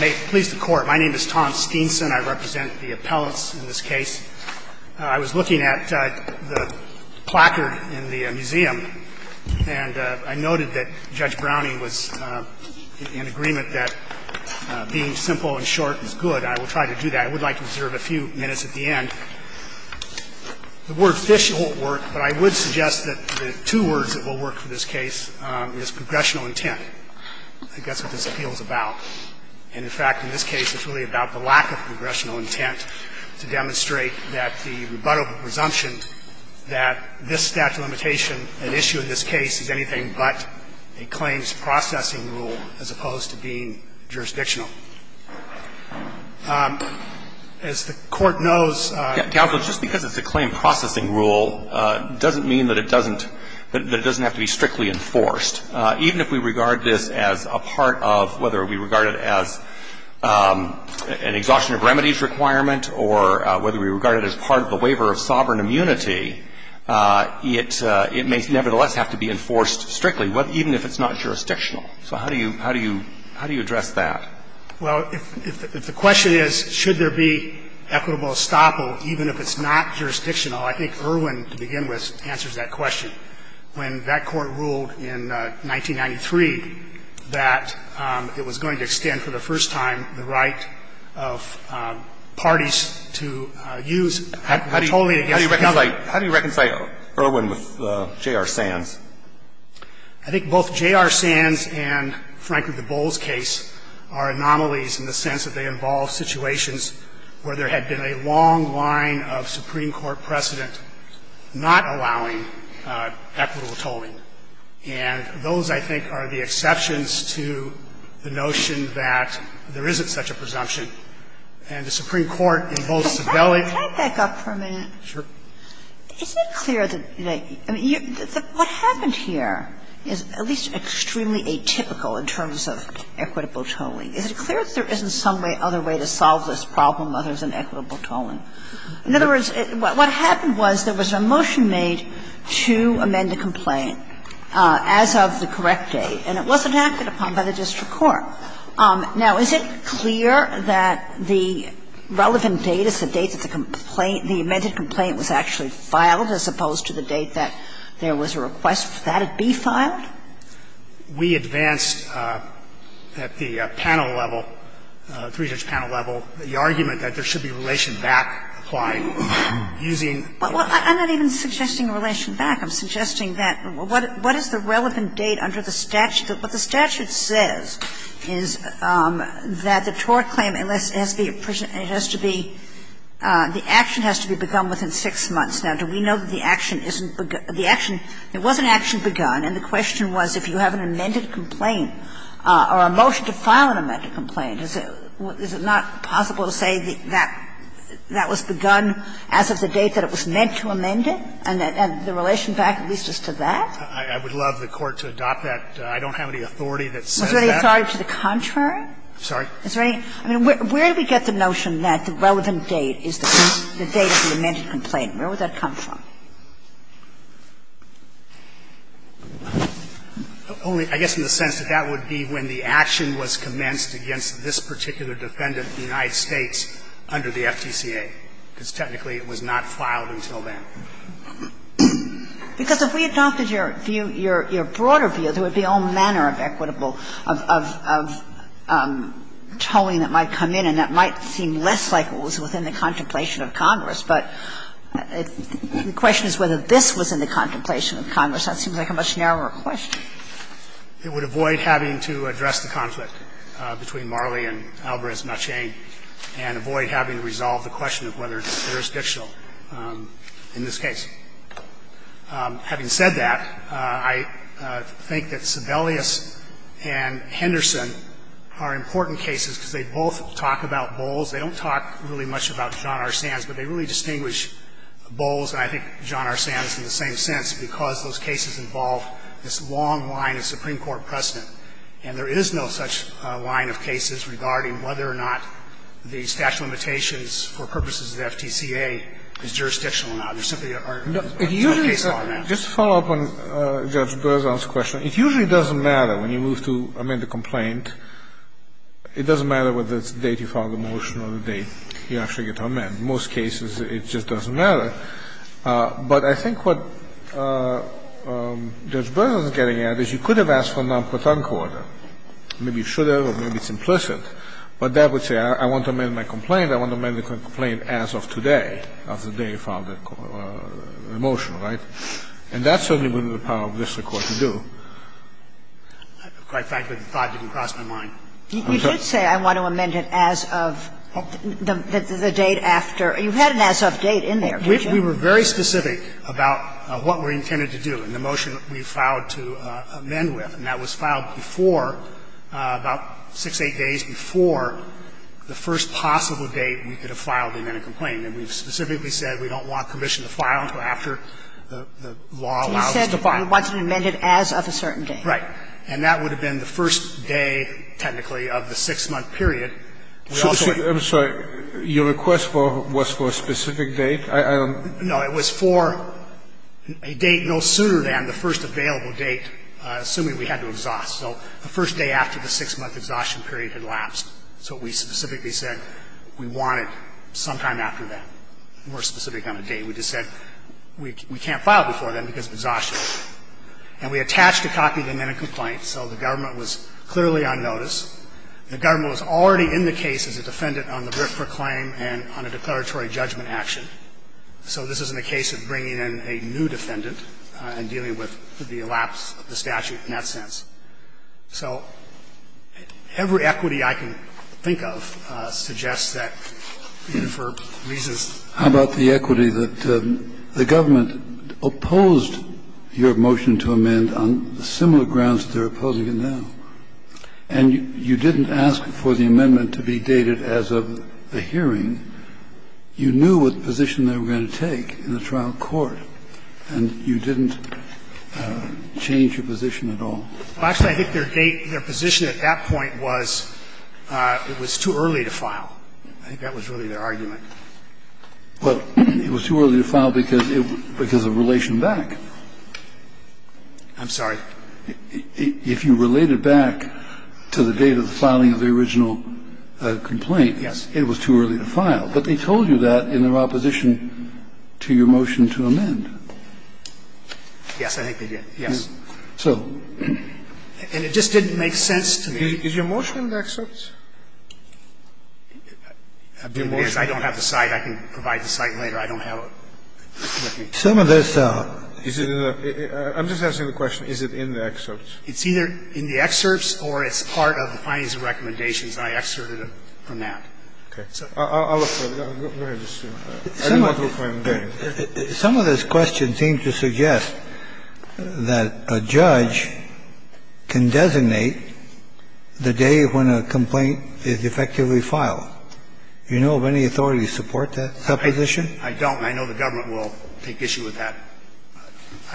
May it please the Court, my name is Tom Steenson. I represent the appellants in this case. I was looking at the placard in the museum and I noted that Judge Browning was in agreement that being simple and short is good. I will try to do that. I would like to reserve a few minutes at the end. The word fish won't work, but I would suggest that the two words that will work for this case is progressional intent. I guess what this appeal is about. And, in fact, in this case it's really about the lack of progressional intent to demonstrate that the rebuttable presumption that this statute of limitation, an issue in this case, is anything but a claims processing rule as opposed to being jurisdictional. As the Court knows. Just because it's a claim processing rule doesn't mean that it doesn't have to be strictly enforced. Even if we regard this as a part of whether we regard it as an exhaustion of remedies requirement or whether we regard it as part of the waiver of sovereign immunity, it may nevertheless have to be enforced strictly, even if it's not jurisdictional. So how do you address that? Well, if the question is should there be equitable estoppel even if it's not jurisdictional, I think Irwin, to begin with, answers that question. When that Court ruled in 1993 that it was going to extend for the first time the right of parties to use equitably against the government. So how do you reconcile the two? How do you reconcile Irwin with J.R. Sands? I think both J.R. Sands and, frankly, the Bowles case are anomalies in the sense that they involve situations where there had been a long line of Supreme Court precedent not allowing equitable tolling. And those, I think, are the exceptions to the notion that there isn't such a presumption. And the Supreme Court in both Sibeli. Can I back up for a minute? Sure. Is it clear that they – I mean, what happened here is at least extremely atypical in terms of equitable tolling. Is it clear that there isn't some other way to solve this problem other than equitable tolling? In other words, what happened was there was a motion made to amend the complaint as of the correct date, and it wasn't acted upon by the district court. Now, is it clear that the relevant date is the date that the complaint, the amended complaint was actually filed as opposed to the date that there was a request for that to be filed? We advanced at the panel level, three-judge panel level, the argument that there Is it clear that there is no other way to go about applying, using the relevant date? I'm not even suggesting a relation back. I'm suggesting that what is the relevant date under the statute? What the statute says is that the tort claim has to be – the action has to be begun within 6 months. Now, do we know that the action isn't – the action, it wasn't actually begun. And the question was if you have an amended complaint or a motion to file an amended complaint, is it not possible to say that that was begun as of the date that it was meant to amend it, and the relation back at least is to that? I would love the Court to adopt that. I don't have any authority that says that. Was there any authority to the contrary? Sorry? Is there any – I mean, where do we get the notion that the relevant date is the date of the amended complaint? Where would that come from? Only, I guess, in the sense that that would be when the action was commenced against this particular defendant, the United States, under the FTCA, because technically it was not filed until then. Because if we adopted your view, your broader view, there would be all manner of equitable – of tolling that might come in, and that might seem less like it was within the contemplation of Congress. But the question is whether this was in the contemplation of Congress. That seems like a much narrower question. It would avoid having to address the conflict between Marley and Alvarez-Machain and avoid having to resolve the question of whether it's jurisdictional in this case. Having said that, I think that Sebelius and Henderson are important cases because they both talk about Bowles. They don't talk really much about John R. Sands, but they really distinguish Bowles, and I think John R. Sands in the same sense, because those cases involve this long line of Supreme Court precedent. And there is no such line of cases regarding whether or not the statute of limitations for purposes of the FTCA is jurisdictional or not. There simply are no cases on that. Just to follow up on Judge Berzon's question, it usually doesn't matter when you move to amend a complaint. It doesn't matter whether it's the date you filed the motion or the date you actually get to amend. In most cases, it just doesn't matter. But I think what Judge Berzon is getting at is you could have asked for a non-Protonco order. Maybe you should have, or maybe it's implicit. But that would say I want to amend my complaint, I want to amend the complaint as of today, as of the day you filed the motion, right? And that certainly wouldn't be the power of the district court to do. Quite frankly, the thought didn't cross my mind. I'm sorry. You did say I want to amend it as of the date after. You had an as-of date in there, didn't you? We were very specific about what we intended to do in the motion we filed to amend with, and that was filed before, about 6, 8 days before the first possible date we could have filed an amended complaint. And we specifically said we don't want commission to file until after the law allows us to file. We want to amend it as of a certain date. Right. And that would have been the first day, technically, of the 6-month period. I'm sorry. Your request was for a specific date? No. It was for a date no sooner than the first available date, assuming we had to exhaust. So the first day after the 6-month exhaustion period had lapsed. So we specifically said we want it sometime after that. We were specific on a date. We just said we can't file before then because of exhaustion. And we attached a copy of the amended complaint so the government was clearly on notice. The government was already in the case as a defendant on the brief proclaim and on a declaratory judgment action. So this isn't a case of bringing in a new defendant and dealing with the elapse of the statute in that sense. So every equity I can think of suggests that, for reasons that I'm not familiar with, the government opposed your motion to amend on similar grounds to their opposing it now. And you didn't ask for the amendment to be dated as of the hearing. You knew what position they were going to take in the trial court, and you didn't change your position at all. Actually, I think their date, their position at that point was it was too early to file. I think that was really their argument. Well, it was too early to file because of relation back. I'm sorry? If you related back to the date of the filing of the original complaint, it was too early to file. But they told you that in their opposition to your motion to amend. Yes, I think they did, yes. And it just didn't make sense to me. Is your motion an excerpt? I don't have the cite. I can provide the cite later. I don't have it. Some of this. I'm just asking the question, is it in the excerpts? It's either in the excerpts or it's part of the findings and recommendations, and I excerpted it from that. Okay. I'll look for it. Go ahead. I didn't want to go find the date. Some of this question seems to suggest that a judge can designate the day when a complaint is effectively filed. Do you know of any authority to support that supposition? I don't. I know the government will take issue with that.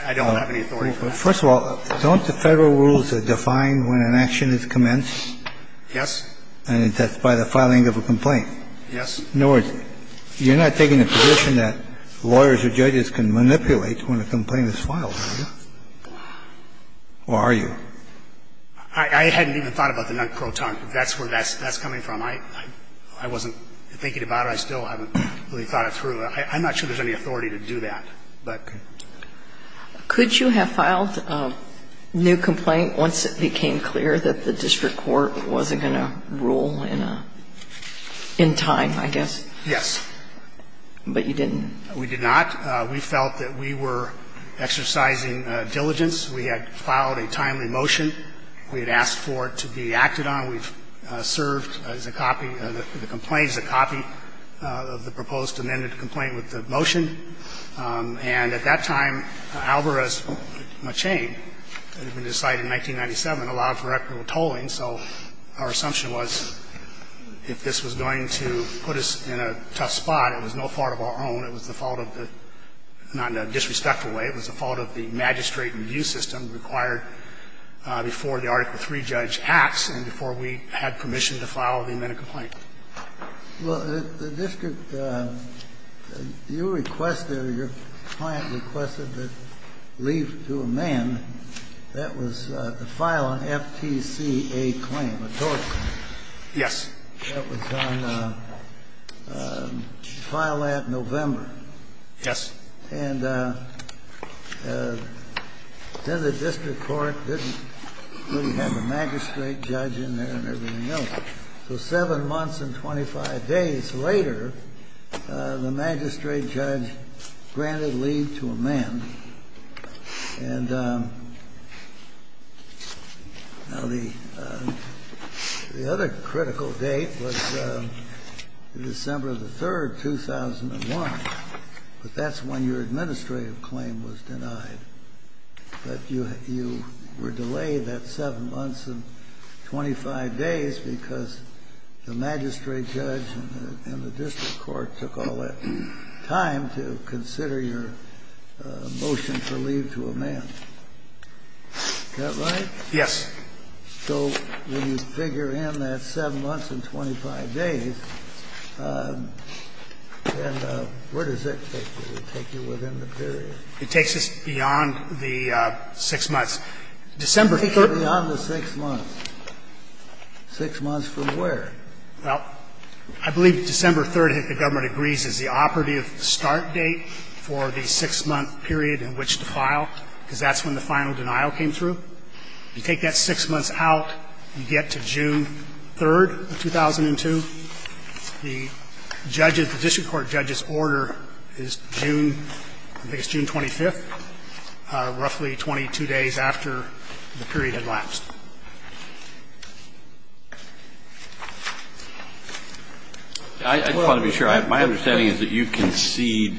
I don't have any authority for that. First of all, don't the Federal rules define when an action is commenced? Yes. And that's by the filing of a complaint? Yes. In other words, you're not taking the position that lawyers or judges can manipulate when a complaint is filed, are you? Or are you? I hadn't even thought about the non-croton. That's where that's coming from. I wasn't thinking about it. I still haven't really thought it through. I'm not sure there's any authority to do that. Could you have filed a new complaint once it became clear that the district court wasn't going to rule in time, I guess? Yes. But you didn't? We did not. We felt that we were exercising diligence. We had filed a timely motion. We had asked for it to be acted on. We've served the complaint as a copy of the proposed amended complaint with the motion. And at that time, Alvarez-McChain had been decided in 1997, allowed for equitable tolling. So our assumption was if this was going to put us in a tough spot, it was no fault of our own. It was the fault of the ñ not in a disrespectful way. It was the fault of the magistrate and view system required before the Article III judge acts and before we had permission to file the amended complaint. Well, the district, you requested or your client requested that leave to amend. That was the file on FTCA claim, a tort claim. Yes. That was on file at November. Yes. And then the district court didn't really have a magistrate judge in there and everything else. So seven months and 25 days later, the magistrate judge granted leave to amend. And now the other critical date was December the 3rd, 2001. But that's when your administrative claim was denied. But you were delayed that seven months and 25 days because the magistrate judge and the district court took all that time to consider your motion for leave to amend. Is that right? Yes. So when you figure in that seven months and 25 days, then where does it take you? It would take you within the period. It takes us beyond the six months. December 3rd. Beyond the six months. Six months from where? Well, I believe December 3rd, if the government agrees, is the operative start date for the six-month period in which to file, because that's when the final denial came through. You take that six months out, you get to June 3rd of 2002. The judge's, the district court judge's order is June, I think it's June 25th, roughly 22 days after the period had lapsed. I just want to be sure. My understanding is that you concede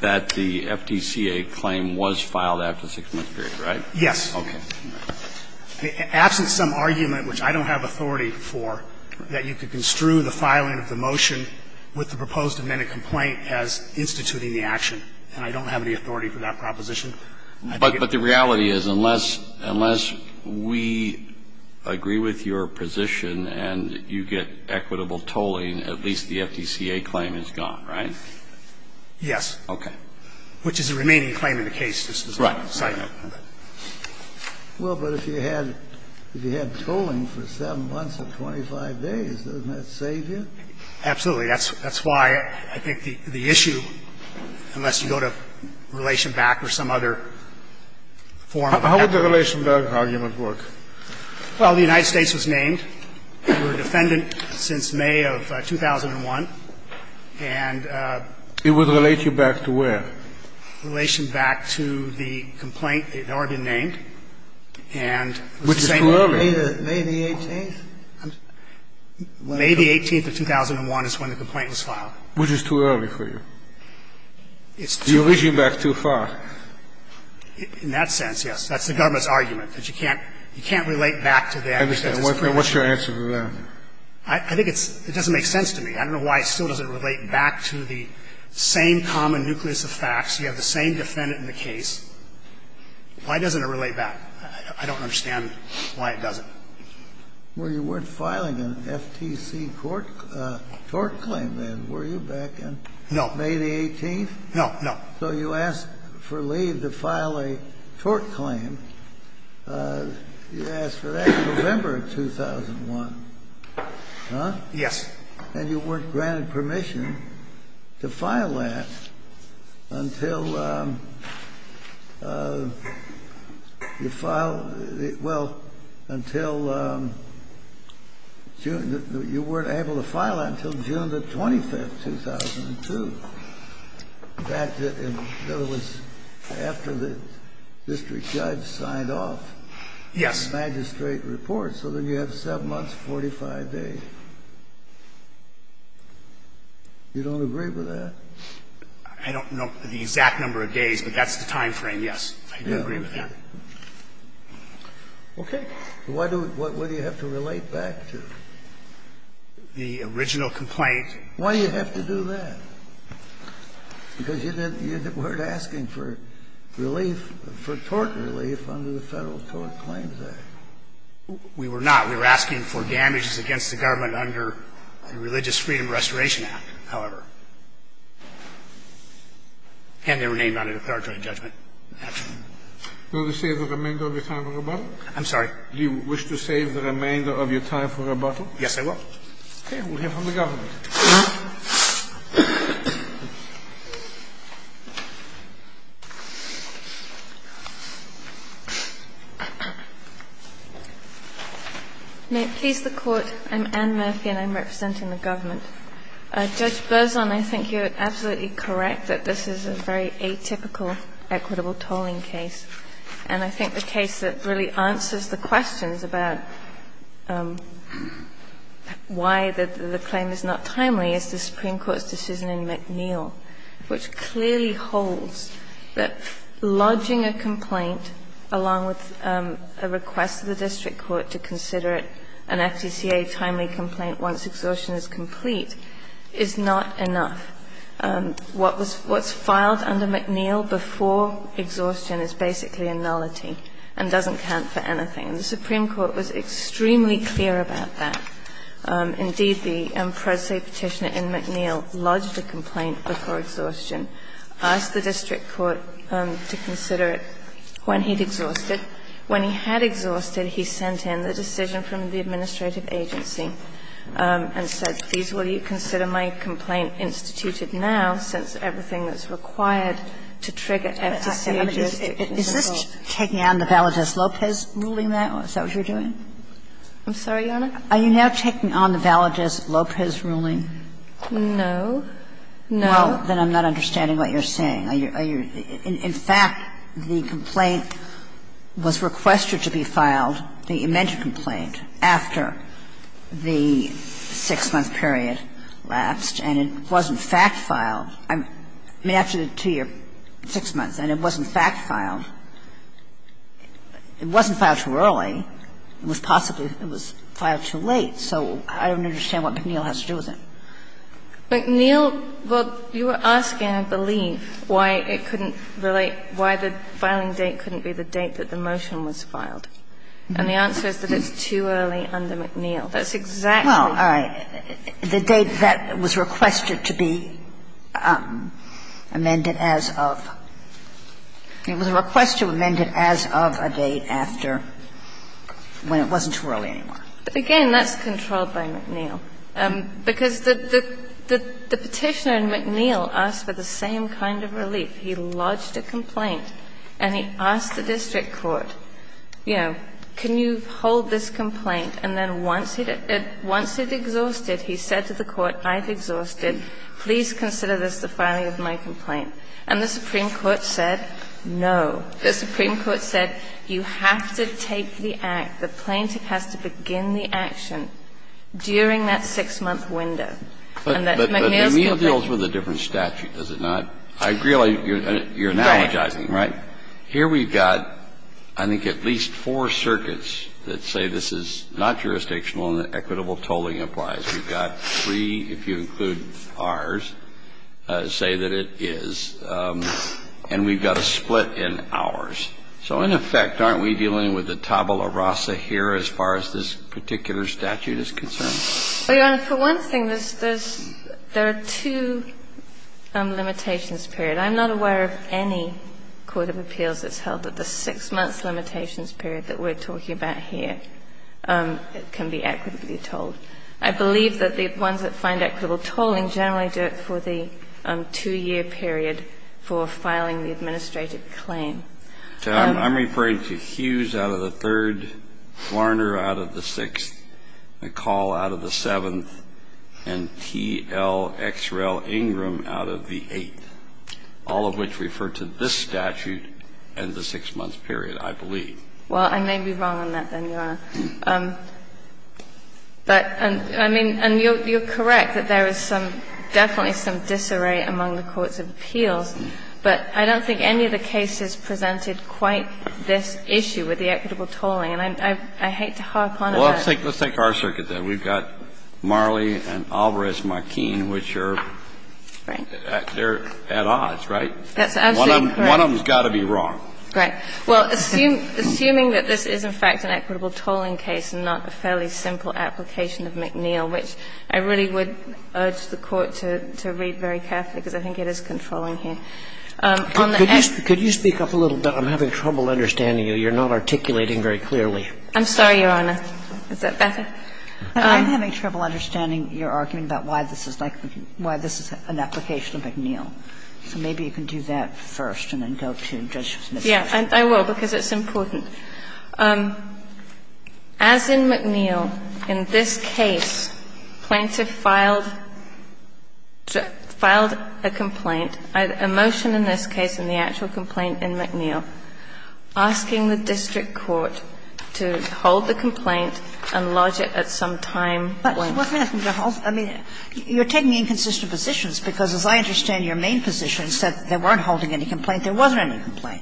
that the FTCA claim was filed after the six-month period, right? Yes. Okay. Absent some argument, which I don't have authority for, that you could construe the filing of the motion with the proposed amended complaint as instituting the action, and I don't have any authority for that proposition. But the reality is unless we agree with your position and you get equitable tolling, at least the FTCA claim is gone, right? Yes. Okay. Which is the remaining claim in the case. Right. Well, but if you had tolling for 7 months and 25 days, doesn't that save you? Absolutely. That's why I think the issue, unless you go to Relationback or some other form of an application. How would the Relationback argument work? Well, the United States was named. We were defendant since May of 2001. And it would relate you back to where? Relationback to the complaint that had already been named. And it's the same. Which is too early. May the 18th? May the 18th of 2001 is when the complaint was filed. Which is too early for you? It's too early. You're reaching back too far. In that sense, yes. That's the government's argument, that you can't relate back to them because it's too early. I understand. What's your answer to that? I think it doesn't make sense to me. I don't know why it still doesn't relate back to the same common nucleus of facts. You have the same defendant in the case. Why doesn't it relate back? I don't understand why it doesn't. Well, you weren't filing an FTC tort claim then, were you, back in May the 18th? No, no. So you asked for leave to file a tort claim. You asked for that in November of 2001. Huh? Yes. And you weren't granted permission to file that until you filed the – well, until June – you weren't able to file that until June the 25th, 2002. In fact, in other words, after the district judge signed off. Yes. You didn't have a magistrate report, so then you have 7 months, 45 days. You don't agree with that? I don't know the exact number of days, but that's the time frame, yes. I do agree with that. Okay. Why do you have to relate back to the original complaint? Why do you have to do that? Because you weren't asking for relief, for tort relief under the Federal Tort Claims Act. We were not. We were asking for damages against the government under the Religious Freedom Restoration Act, however. And they were named under the Peritone Judgment Act. Do you wish to save the remainder of your time for rebuttal? I'm sorry? Do you wish to save the remainder of your time for rebuttal? Yes, I will. Okay. We'll hear from the government. May it please the Court. I'm Anne Murphy, and I'm representing the government. Judge Berzon, I think you're absolutely correct that this is a very atypical equitable tolling case. And I think the case that really answers the questions about why the claim is not timely is the Supreme Court's decision in McNeill, which clearly holds that lodging a complaint along with a request to the district court to consider it an FTCA timely complaint once exhaustion is complete is not enough. What's filed under McNeill before exhaustion is basically a nullity and doesn't count for anything. And the Supreme Court was extremely clear about that. Indeed, the predecessor Petitioner in McNeill lodged a complaint before exhaustion, asked the district court to consider it when he'd exhausted. When he had exhausted, he sent in the decision from the administrative agency and said, I'm sorry, Your Honor. Are you saying, please, will you consider my complaint instituted now since everything that's required to trigger FTCA just isn't enough? Is this taking on the Valadez-Lopez ruling now? Is that what you're doing? I'm sorry, Your Honor? Are you now taking on the Valadez-Lopez ruling? No. No. Well, then I'm not understanding what you're saying. Are you – in fact, the complaint was requested to be filed, the amended complaint, after the six-month period lapsed, and it wasn't fact-filed. I mean, after the two-year, six months, and it wasn't fact-filed. It wasn't filed too early. It was possibly filed too late. So I don't understand what McNeill has to do with it. McNeill, well, you were asking, I believe, why it couldn't relate, why the filing date couldn't be the date that the motion was filed. And the answer is that it's too early under McNeill. That's exactly right. Well, all right. The date that was requested to be amended as of – it was a request to amend it as of a date after when it wasn't too early anymore. Again, that's controlled by McNeill. Because the Petitioner in McNeill asked for the same kind of relief. He lodged a complaint, and he asked the district court, you know, can you hold this complaint, and then once he'd exhausted, he said to the court, I've exhausted. Please consider this the filing of my complaint. And the Supreme Court said no. The Supreme Court said you have to take the act. The plaintiff has to begin the action during that six-month window. And that's McNeill's complaint. But McNeill deals with a different statute, does it not? I realize you're analogizing, right? Right. Here we've got, I think, at least four circuits that say this is not jurisdictional and equitable tolling applies. We've got three, if you include ours, say that it is. And we've got a split in hours. So in effect, aren't we dealing with a tabula rasa here as far as this particular statute is concerned? Well, Your Honor, for one thing, there's two limitations period. I'm not aware of any court of appeals that's held that the six-month limitations period that we're talking about here can be equitably tolled. I believe that the ones that find equitable tolling generally do it for the two-year period for filing the administrative claim. I'm referring to Hughes out of the third, Warner out of the sixth, McCall out of the seventh, and T.L. X. Rel. Ingram out of the eighth, all of which refer to this statute and the six-month period, I believe. Well, I may be wrong on that, then, Your Honor. But, I mean, and you're correct that there is some, definitely some disarray among the courts of appeals, but I don't think any of the cases presented quite this issue with the equitable tolling. And I hate to harp on about it. Well, let's take our circuit, then. We've got Marley and Alvarez-McKean, which are at odds, right? That's absolutely correct. One of them has got to be wrong. Right. Well, assuming that this is, in fact, an equitable tolling case and not a fairly simple application of McNeil, which I really would urge the Court to read very carefully because I think it is controlling here. Could you speak up a little bit? I'm having trouble understanding you. You're not articulating very clearly. I'm sorry, Your Honor. Is that better? I'm having trouble understanding your argument about why this is like, why this is an application of McNeil. So maybe you can do that first and then go to Judge Smith's question. I will because it's important. As in McNeil, in this case, plaintiff filed a complaint, a motion in this case and the actual complaint in McNeil, asking the district court to hold the complaint and lodge it at some time point. Well, let me ask you. I mean, you're taking inconsistent positions because, as I understand your main position, you said they weren't holding any complaint. There wasn't any complaint.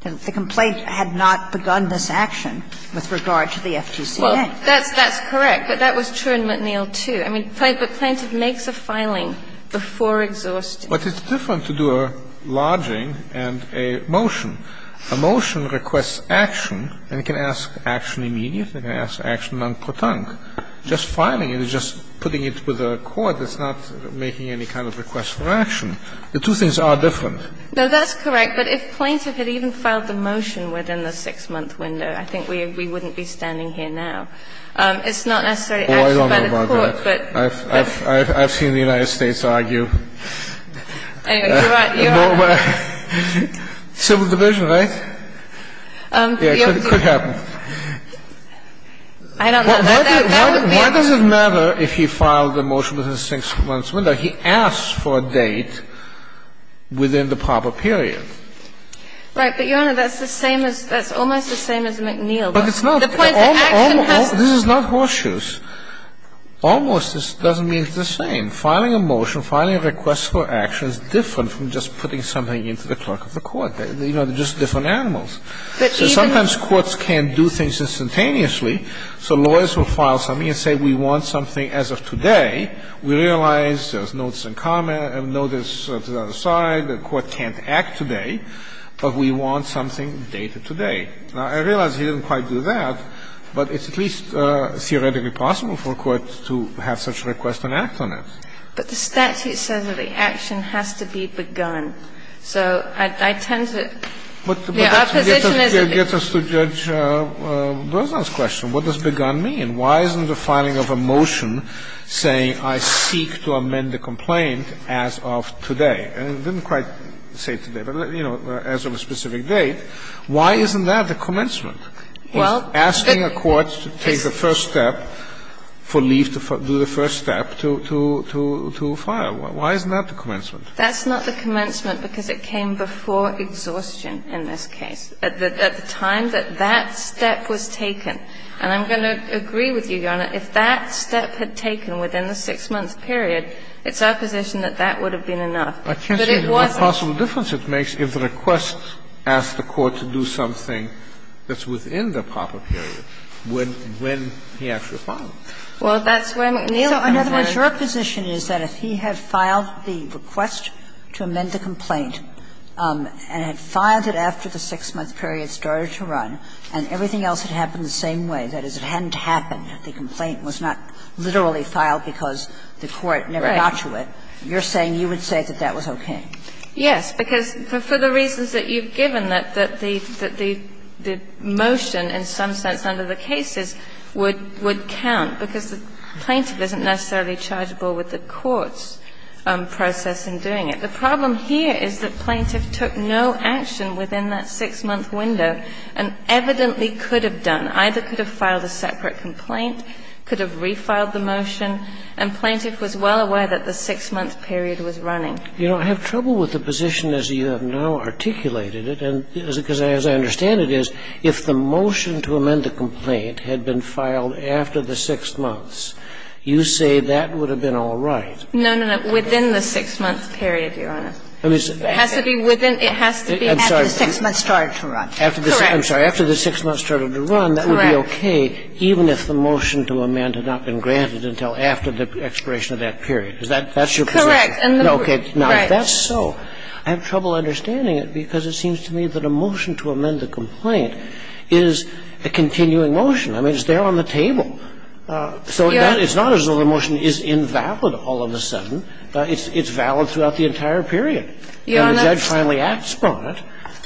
The complaint had not begun this action with regard to the FGCA. Well, that's correct. But that was true in McNeil, too. I mean, but plaintiff makes a filing before exhausting. But it's different to do a lodging and a motion. A motion requests action, and it can ask action immediately. It can ask action en protente. Just filing it is just putting it with a court that's not making any kind of request for action. The two things are different. No, that's correct. But if plaintiff had even filed the motion within the 6-month window, I think we wouldn't be standing here now. It's not necessarily actually by the court, but by the court. I don't know about that. I've seen the United States argue. Anyway, you're right. You're right. Civil division, right? Yeah, it could happen. I don't know. Why does it matter if he filed the motion within the 6-month window? He asked for a date within the proper period. Right. But, Your Honor, that's the same as – that's almost the same as McNeil. But it's not. This is not horseshoes. Almost doesn't mean it's the same. Filing a motion, filing a request for action is different from just putting something into the clerk of the court. You know, they're just different animals. So sometimes courts can't do things instantaneously. So lawyers will file something and say, we want something as of today. We realize there's notes and comments and notice to the other side. The court can't act today, but we want something dated today. Now, I realize he didn't quite do that, but it's at least theoretically possible for a court to have such a request and act on it. But the statute says that the action has to be begun. So I tend to – yeah, our position is that – But that's what gets us to Judge Berzon's question. What does begun mean? Why isn't the filing of a motion saying I seek to amend the complaint as of today? And it didn't quite say today, but, you know, as of a specific date. Why isn't that the commencement? He's asking a court to take the first step for leave to do the first step to file. Why isn't that the commencement? That's not the commencement because it came before exhaustion in this case, at the time that that step was taken. And I'm going to agree with you, Your Honor. If that step had taken within the 6-month period, it's our position that that would have been enough. But it wasn't. I can't see what possible difference it makes if the request asks the court to do something that's within the proper period when he actually filed it. Well, that's where McNeil comes in. So in other words, your position is that if he had filed the request to amend the complaint and had filed it after the 6-month period started to run and everything else had happened the same way, that is, it hadn't happened, the complaint was not literally filed because the court never got to it, you're saying you would say that that was okay? Yes, because for the reasons that you've given, that the motion in some sense under the cases would count, because the plaintiff isn't necessarily chargeable with the court's process in doing it. The problem here is that plaintiff took no action within that 6-month window and evidently could have done. Either could have filed a separate complaint, could have refiled the motion, and plaintiff was well aware that the 6-month period was running. You know, I have trouble with the position as you have now articulated it, because as I understand it is, if the motion to amend the complaint had been filed after the 6 months, you say that would have been all right. No, no, no. Within the 6-month period, Your Honor. It has to be within, it has to be after the 6 months started to run. I'm sorry. Correct. I'm sorry. After the 6 months started to run, that would be okay even if the motion to amend had not been granted until after the expiration of that period. Is that your position? Correct. Okay. Now, if that's so, I have trouble understanding it because it seems to me that a motion to amend the complaint is a continuing motion. I mean, it's there on the table. So that is not as though the motion is invalid all of a sudden. It's valid throughout the entire period. Your Honor. And the judge finally asked for it,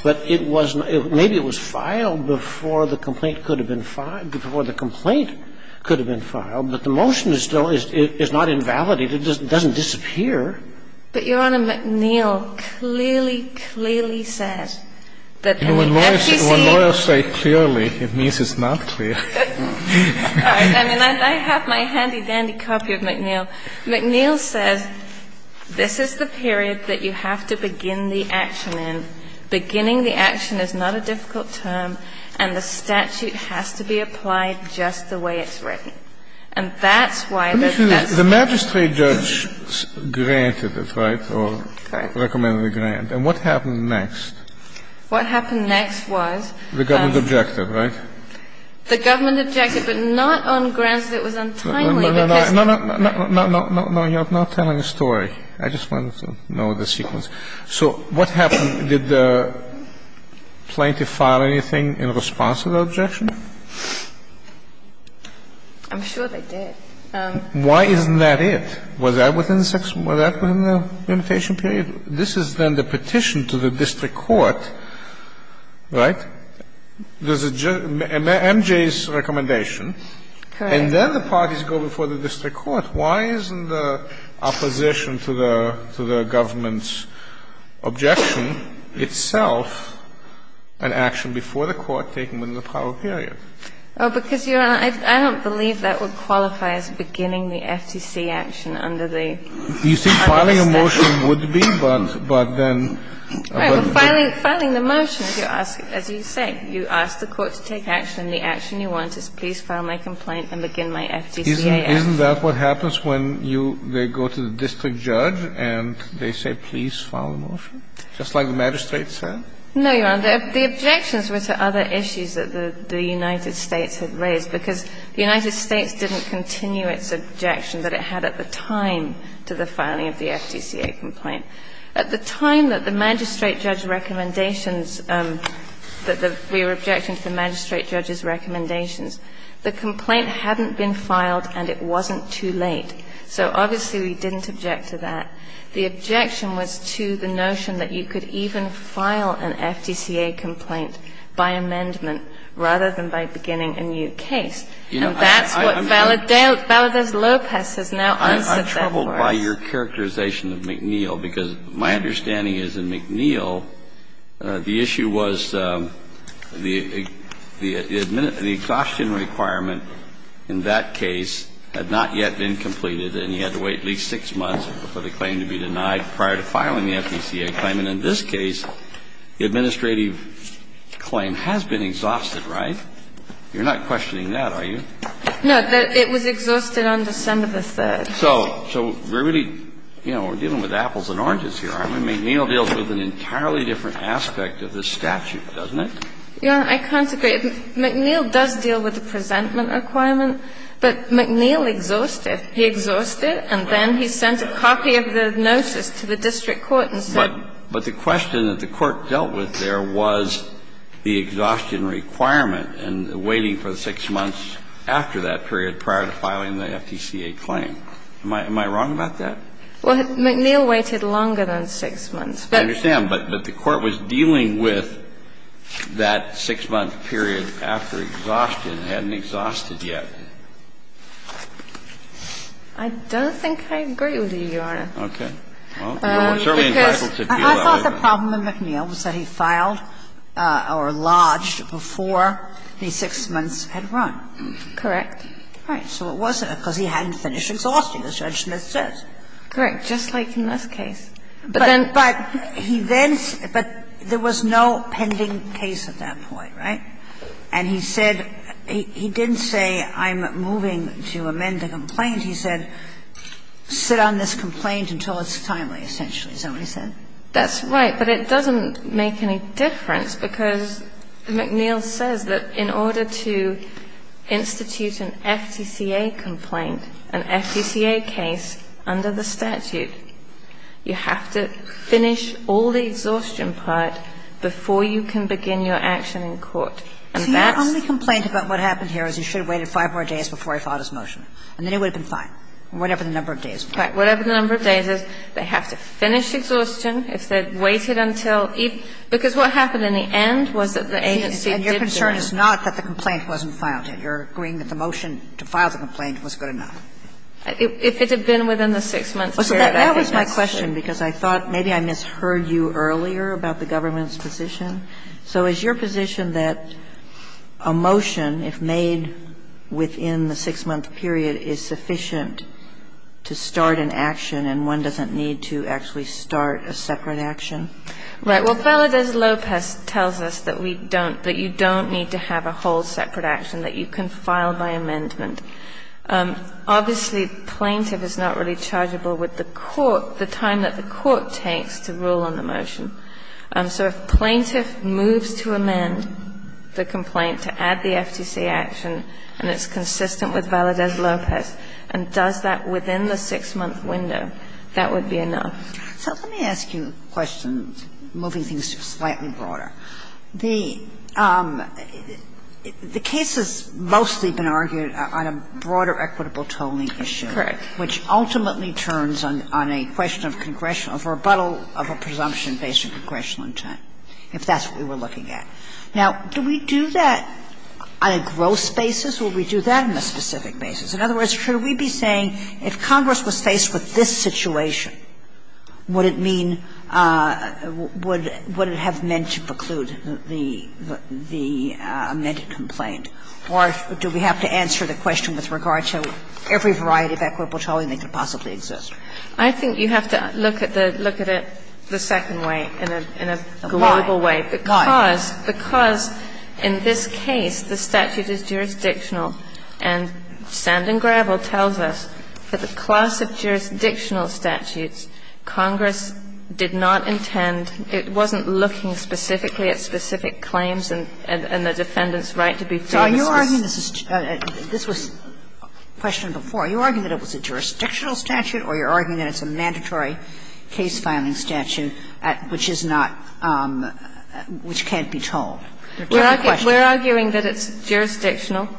but it wasn't, maybe it was filed before the complaint could have been filed, before the complaint could have been filed, but the motion is still, it's not invalidated. It doesn't disappear. But Your Honor, McNeil clearly, clearly said that the FCC. When lawyers say clearly, it means it's not clear. All right. I mean, I have my handy dandy copy of McNeil. McNeil says this is the period that you have to begin the action in. Beginning the action is not a difficult term, and the statute has to be applied just the way it's written. And that's why. Let me finish. The magistrate judge granted it, right? Correct. Or recommended a grant. And what happened next? What happened next was. The government objective, right? The government objective, but not on grounds that it was untimely because. No, no, no, no, no, no, no, no. You're not telling a story. I just wanted to know the sequence. So what happened? Did the plaintiff file anything in response to the objection? I'm sure they did. Why isn't that it? Was that within the limitation period? This is then the petition to the district court, right? There's a judge, MJ's recommendation. Correct. And then the parties go before the district court. Why isn't the opposition to the government's objection itself an action before the court taking within the power period? Oh, because, Your Honor, I don't believe that would qualify as beginning the FTC action under the. You see, filing a motion would be, but then. Right. But filing the motion, as you say, you ask the court to take action, and the action you want is please file my complaint and begin my FTC action. Isn't that what happens when you go to the district judge and they say please file the motion, just like the magistrate said? No, Your Honor. The objections were to other issues that the United States had raised, because the United States didn't continue its objection that it had at the time to the filing of the FTCA complaint. At the time that the magistrate judge's recommendations that the we were objecting to the magistrate judge's recommendations, the complaint hadn't been filed and it wasn't too late. So obviously we didn't object to that. The objection was to the notion that you could even file an FTCA complaint by amendment rather than by beginning a new case. And that's what Valadez-Lopez has now answered that for us. I'm troubled by your characterization of McNeil, because my understanding is in McNeil the issue was the exhaustion requirement in that case had not yet been completed and you had to wait at least 6 months for the claim to be denied prior to filing the FTCA claim. And in this case, the administrative claim has been exhausted, right? You're not questioning that, are you? No. It was exhausted on December 3rd. So we're really, you know, we're dealing with apples and oranges here, aren't we? McNeil deals with an entirely different aspect of this statute, doesn't it? Your Honor, I can't agree. McNeil does deal with the presentment requirement, but McNeil exhausted. But the question that the Court dealt with there was the exhaustion requirement and waiting for the 6 months after that period prior to filing the FTCA claim. Am I wrong about that? Well, McNeil waited longer than 6 months. I understand. But the Court was dealing with that 6-month period after exhaustion. It hadn't exhausted yet. I don't think I agree with you, Your Honor. Okay. I thought the problem with McNeil was that he filed or lodged before the 6 months had run. Correct. Right. So it wasn't because he hadn't finished exhausting, as Judge Smith says. Correct. Just like in this case. But then he then – but there was no pending case at that point, right? And he said sit on this complaint until it's timely, essentially, is that what he said? That's right. But it doesn't make any difference because McNeil says that in order to institute an FTCA complaint, an FTCA case under the statute, you have to finish all the exhaustion part before you can begin your action in court. And that's – See, my only complaint about what happened here is he should have waited 5 more days before he filed his motion, and then it would have been fine, whatever the number of days were. Right. Whatever the number of days is. They have to finish exhaustion. If they'd waited until – because what happened in the end was that the agency did the right thing. And your concern is not that the complaint wasn't filed yet. You're agreeing that the motion to file the complaint was good enough. If it had been within the 6 months period, I would have said so. That was my question because I thought maybe I misheard you earlier about the government's position. So is your position that a motion, if made within the 6-month period, is sufficient to start an action and one doesn't need to actually start a separate action? Right. Well, Valadez-Lopez tells us that we don't – that you don't need to have a whole separate action, that you can file by amendment. Obviously, plaintiff is not really chargeable with the court, the time that the court takes to rule on the motion. So if plaintiff moves to amend the complaint to add the FTC action and it's consistent with Valadez-Lopez and does that within the 6-month window, that would be enough. So let me ask you a question, moving things slightly broader. The case has mostly been argued on a broader equitable tolling issue. Correct. Which ultimately turns on a question of congressional – of rebuttal of a presumption based on congressional intent, if that's what we were looking at. Now, do we do that on a gross basis, or do we do that on a specific basis? In other words, should we be saying if Congress was faced with this situation, would it mean – would it have meant to preclude the amended complaint, or do we have to answer the question with regard to every variety of equitable tolling that could possibly exist? I think you have to look at the – look at it the second way, in a global way. Why? Why? Because in this case, the statute is jurisdictional, and sand and gravel tells us that the class of jurisdictional statutes Congress did not intend – it wasn't looking specifically at specific claims and the defendant's right to be fair. Are you arguing this is – this was questioned before. Are you arguing that it was a jurisdictional statute, or are you arguing that it's a mandatory case-filing statute at – which is not – which can't be tolled? We're arguing that it's jurisdictional,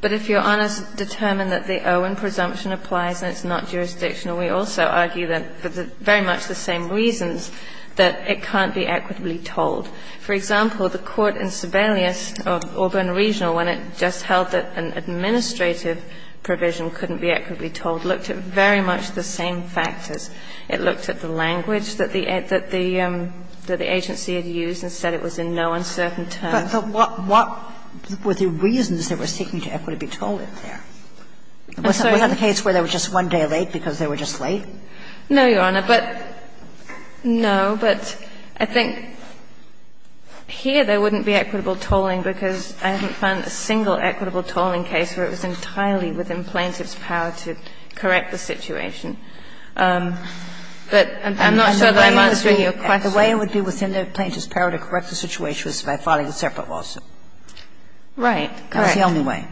but if Your Honors determine that the Owen presumption applies and it's not jurisdictional, we also argue that, for very much the same reasons, that it can't be equitably tolled. For example, the court in Sebelius of Auburn Regional, when it just held that an administrative provision couldn't be equitably tolled, looked at very much the same factors. It looked at the language that the agency had used and said it was in no uncertain terms. But what were the reasons they were seeking to equitably toll it there? I'm sorry? Was that the case where they were just one day late because they were just late? No, Your Honor. But, no, but I think here there wouldn't be equitable tolling because I haven't found a single equitable tolling case where it was entirely within plaintiff's power to correct the situation. But I'm not sure that I'm answering your question. The way it would be within the plaintiff's power to correct the situation was by filing a separate lawsuit. Right. Correct. That was the only way.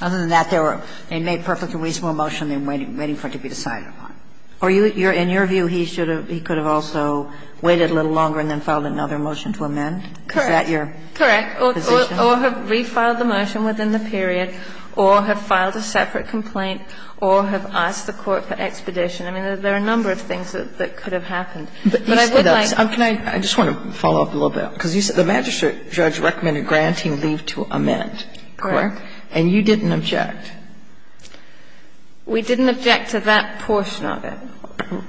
Other than that, they were – they made perfect and reasonable motion, and they're waiting for it to be decided upon. Or you're – in your view, he should have – he could have also waited a little longer and then filed another motion to amend? Correct. Is that your position? Correct. Or have refiled the motion within the period, or have filed a separate complaint, or have asked the court for expedition. I mean, there are a number of things that could have happened. But I would like – Can I – I just want to follow up a little bit. Because you said the magistrate judge recommended granting leave to amend. Correct. And you didn't object. We didn't object to that portion of it.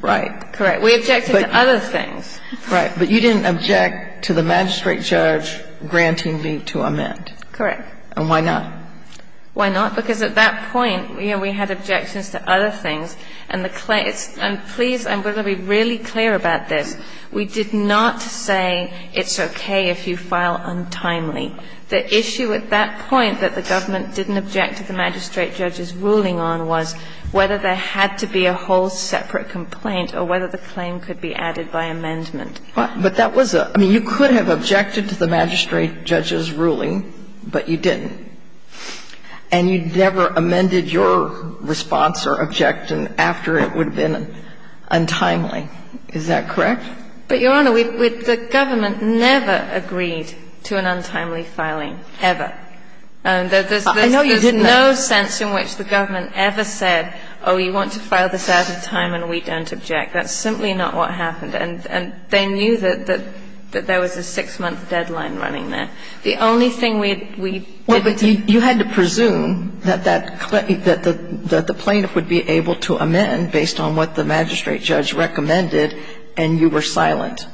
Right. Correct. We objected to other things. Right. But you didn't object to the magistrate judge granting leave to amend. Correct. And why not? Why not? Because at that point, you know, we had objections to other things. And the claim – and please, I'm going to be really clear about this. We did not say it's okay if you file untimely. The issue at that point that the government didn't object to the magistrate judge's ruling on was whether there had to be a whole separate complaint or whether the claim could be added by amendment. But that was a – I mean, you could have objected to the magistrate judge's ruling, but you didn't. And you never amended your response or objection after it would have been untimely. Is that correct? But, Your Honor, we – the government never agreed to an untimely filing, ever. I know you didn't. There's no sense in which the government ever said, oh, you want to file this out of time and we don't object. That's simply not what happened. And they knew that there was a six-month deadline running there. The only thing we did – Well, but you had to presume that that – that the plaintiff would be able to amend based on what the magistrate judge recommended, and you were silent.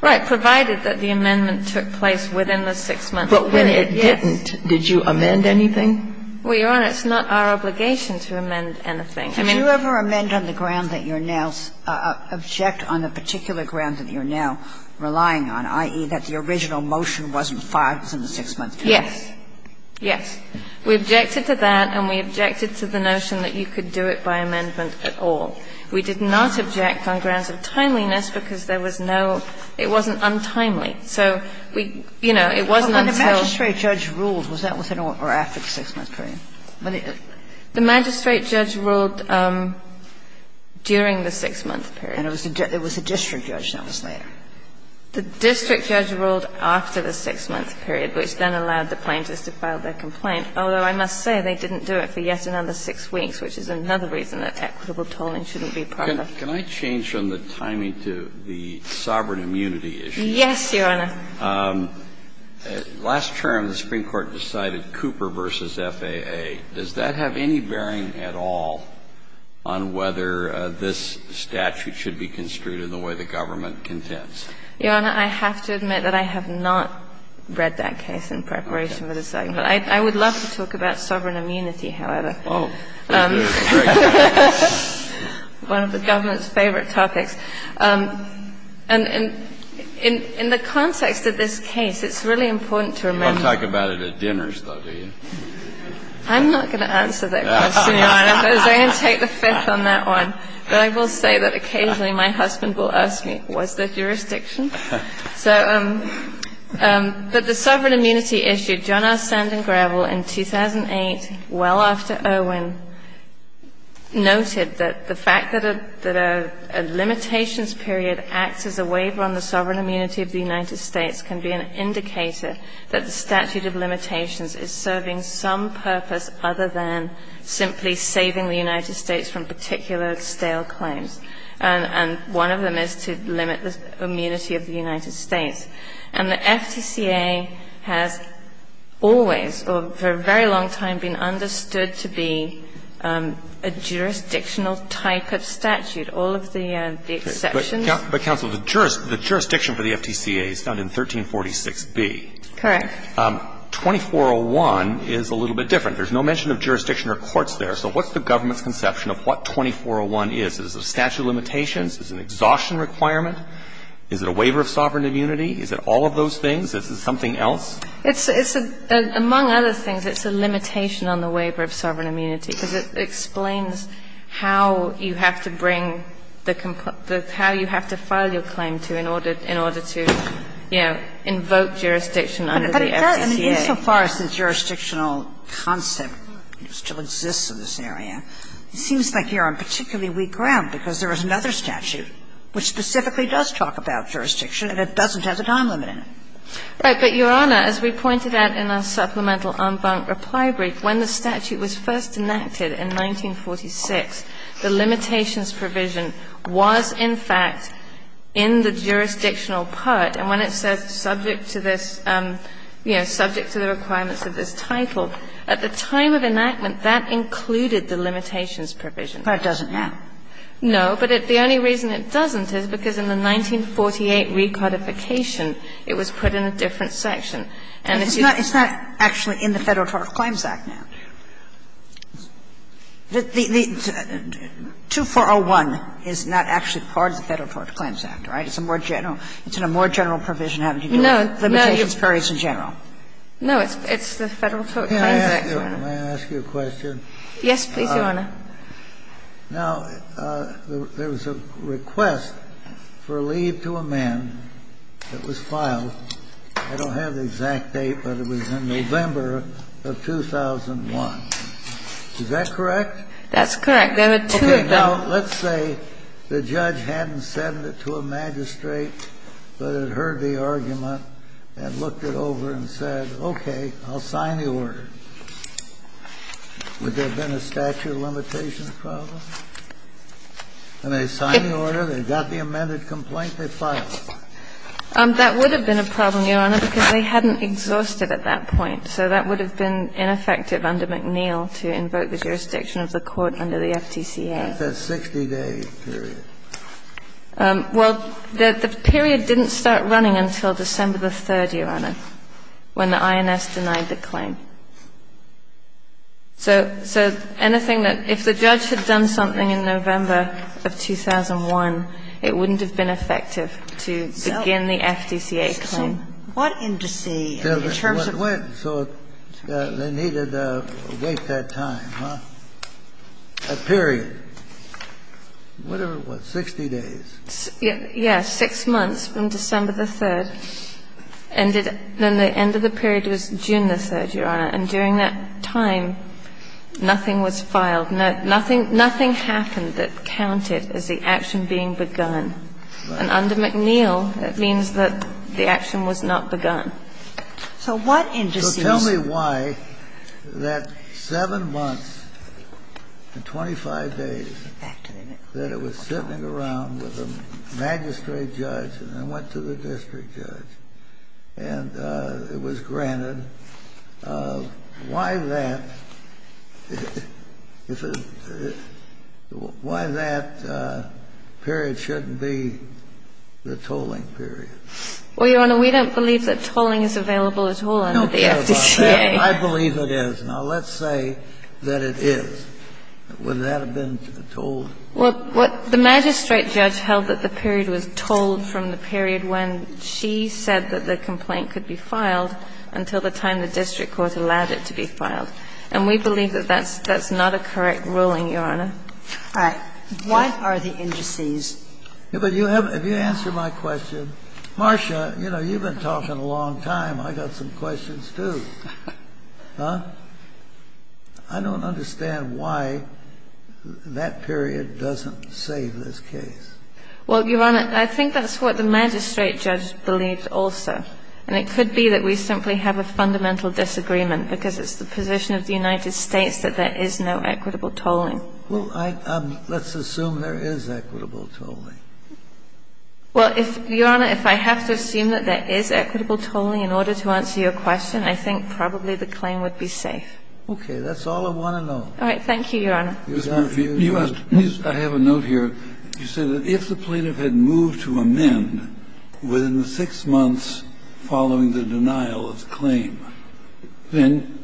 Right, provided that the amendment took place within the six-month period. But when it didn't, did you amend anything? Well, Your Honor, it's not our obligation to amend anything. I mean – Did you ever amend on the ground that you're now – object on the particular ground that you're now relying on, i.e., that the original motion wasn't filed within the six-month period? Yes. Yes. We objected to that and we objected to the notion that you could do it by amendment at all. We did not object on grounds of timeliness because there was no – it wasn't untimely. So we – you know, it wasn't until – But when the magistrate judge ruled, was that within or after the six-month period? The magistrate judge ruled during the six-month period. And it was a district judge that was there. The district judge ruled after the six-month period, which then allowed the plaintiffs to file their complaint, although I must say they didn't do it for yet another six weeks, which is another reason that equitable tolling shouldn't be part of it. Can I change from the timing to the sovereign immunity issue? Yes, Your Honor. Last term, the Supreme Court decided Cooper v. FAA. Does that have any bearing at all on whether this statute should be construed in the way the government contends? Your Honor, I have to admit that I have not read that case in preparation for this argument. I would love to talk about sovereign immunity, however. Oh. One of the government's favorite topics. And in the context of this case, it's really important to remember – You don't talk about it at dinners, though, do you? I'm not going to answer that question, Your Honor. I'm going to take the fifth on that one. But I will say that occasionally my husband will ask me, was there jurisdiction? But the sovereign immunity issue, John R. Sand and Gravel in 2008, well after Irwin, noted that the fact that a limitations period acts as a waiver on the sovereign immunity of the United States can be an indicator that the statute of limitations is serving some purpose other than simply saving the United States from particular stale claims. And one of them is to limit the immunity of the United States. And the FTCA has always, for a very long time, been understood to be a jurisdictional type of statute, all of the exceptions. But, counsel, the jurisdiction for the FTCA is found in 1346b. Correct. 2401 is a little bit different. There's no mention of jurisdiction or courts there. So what's the government's conception of what 2401 is? Is it a statute of limitations? Is it an exhaustion requirement? Is it a waiver of sovereign immunity? Is it all of those things? Is it something else? It's a – among other things, it's a limitation on the waiver of sovereign immunity because it explains how you have to bring the – how you have to file your claim to in order to, you know, invoke jurisdiction under the FTCA. And insofar as the jurisdictional concept still exists in this area, it seems like you're on particularly weak ground because there is another statute which specifically does talk about jurisdiction and it doesn't have the time limit in it. Right. But, Your Honor, as we pointed out in our supplemental en banc reply brief, when the statute was first enacted in 1946, the limitations provision was, in fact, in the jurisdictional part, and when it says subject to this, you know, subject to the requirements of this title, at the time of enactment, that included the limitations provision. But it doesn't now. No, but the only reason it doesn't is because in the 1948 recodification, it was put in a different section. And it's not – it's not actually in the Federal Tort Claims Act now. The 2401 is not actually part of the Federal Tort Claims Act, right? It's a more general – it's in a more general provision, haven't you? No, no. Limitations provision in general. No, it's the Federal Tort Claims Act, Your Honor. May I ask you a question? Yes, please, Your Honor. Now, there was a request for leave to a man that was filed. I don't have the exact date, but it was in November of 2001. Is that correct? That's correct. There were two of them. Now, let's say the judge hadn't sent it to a magistrate, but had heard the argument and looked it over and said, okay, I'll sign the order. Would there have been a statute of limitations problem? When they signed the order, they got the amended complaint, they filed it. That would have been a problem, Your Honor, because they hadn't exhausted at that point. So that would have been ineffective under McNeil to invoke the jurisdiction of the court under the FTCA. That's a 60-day period. Well, the period didn't start running until December the 3rd, Your Honor, when the INS denied the claim. So anything that – if the judge had done something in November of 2001, it wouldn't have been effective to begin the FTCA claim. So what indice in terms of – Well, it went. So they needed to wait that time, huh? A period. Whatever it was. 60 days. Yes. Six months from December the 3rd. And then the end of the period was June the 3rd, Your Honor. And during that time, nothing was filed. Nothing happened that counted as the action being begun. And under McNeil, it means that the action was not begun. So what indice – So tell me why that 7 months and 25 days that it was sitting around with the magistrate judge and then went to the district judge, and it was granted, why that – why that period shouldn't be the tolling period? Well, Your Honor, we don't believe that tolling is available at all under the FTCA. I believe it is. Now, let's say that it is. Would that have been tolled? Well, the magistrate judge held that the period was tolled from the period when she said that the complaint could be filed until the time the district court allowed it to be filed. And we believe that that's not a correct ruling, Your Honor. All right. What are the indices? But you haven't – if you answer my question, Marcia, you know, you've been talking a long time. I got some questions, too. I don't understand why that period doesn't save this case. Well, Your Honor, I think that's what the magistrate judge believed also. And it could be that we simply have a fundamental disagreement because it's the position of the United States that there is no equitable tolling. Well, let's assume there is equitable tolling. Well, Your Honor, if I have to assume that there is equitable tolling in order to answer your question, I think probably the claim would be safe. Okay. That's all I want to know. All right. Thank you, Your Honor. I have a note here. You said that if the plaintiff had moved to amend within the six months following the denial of the claim, then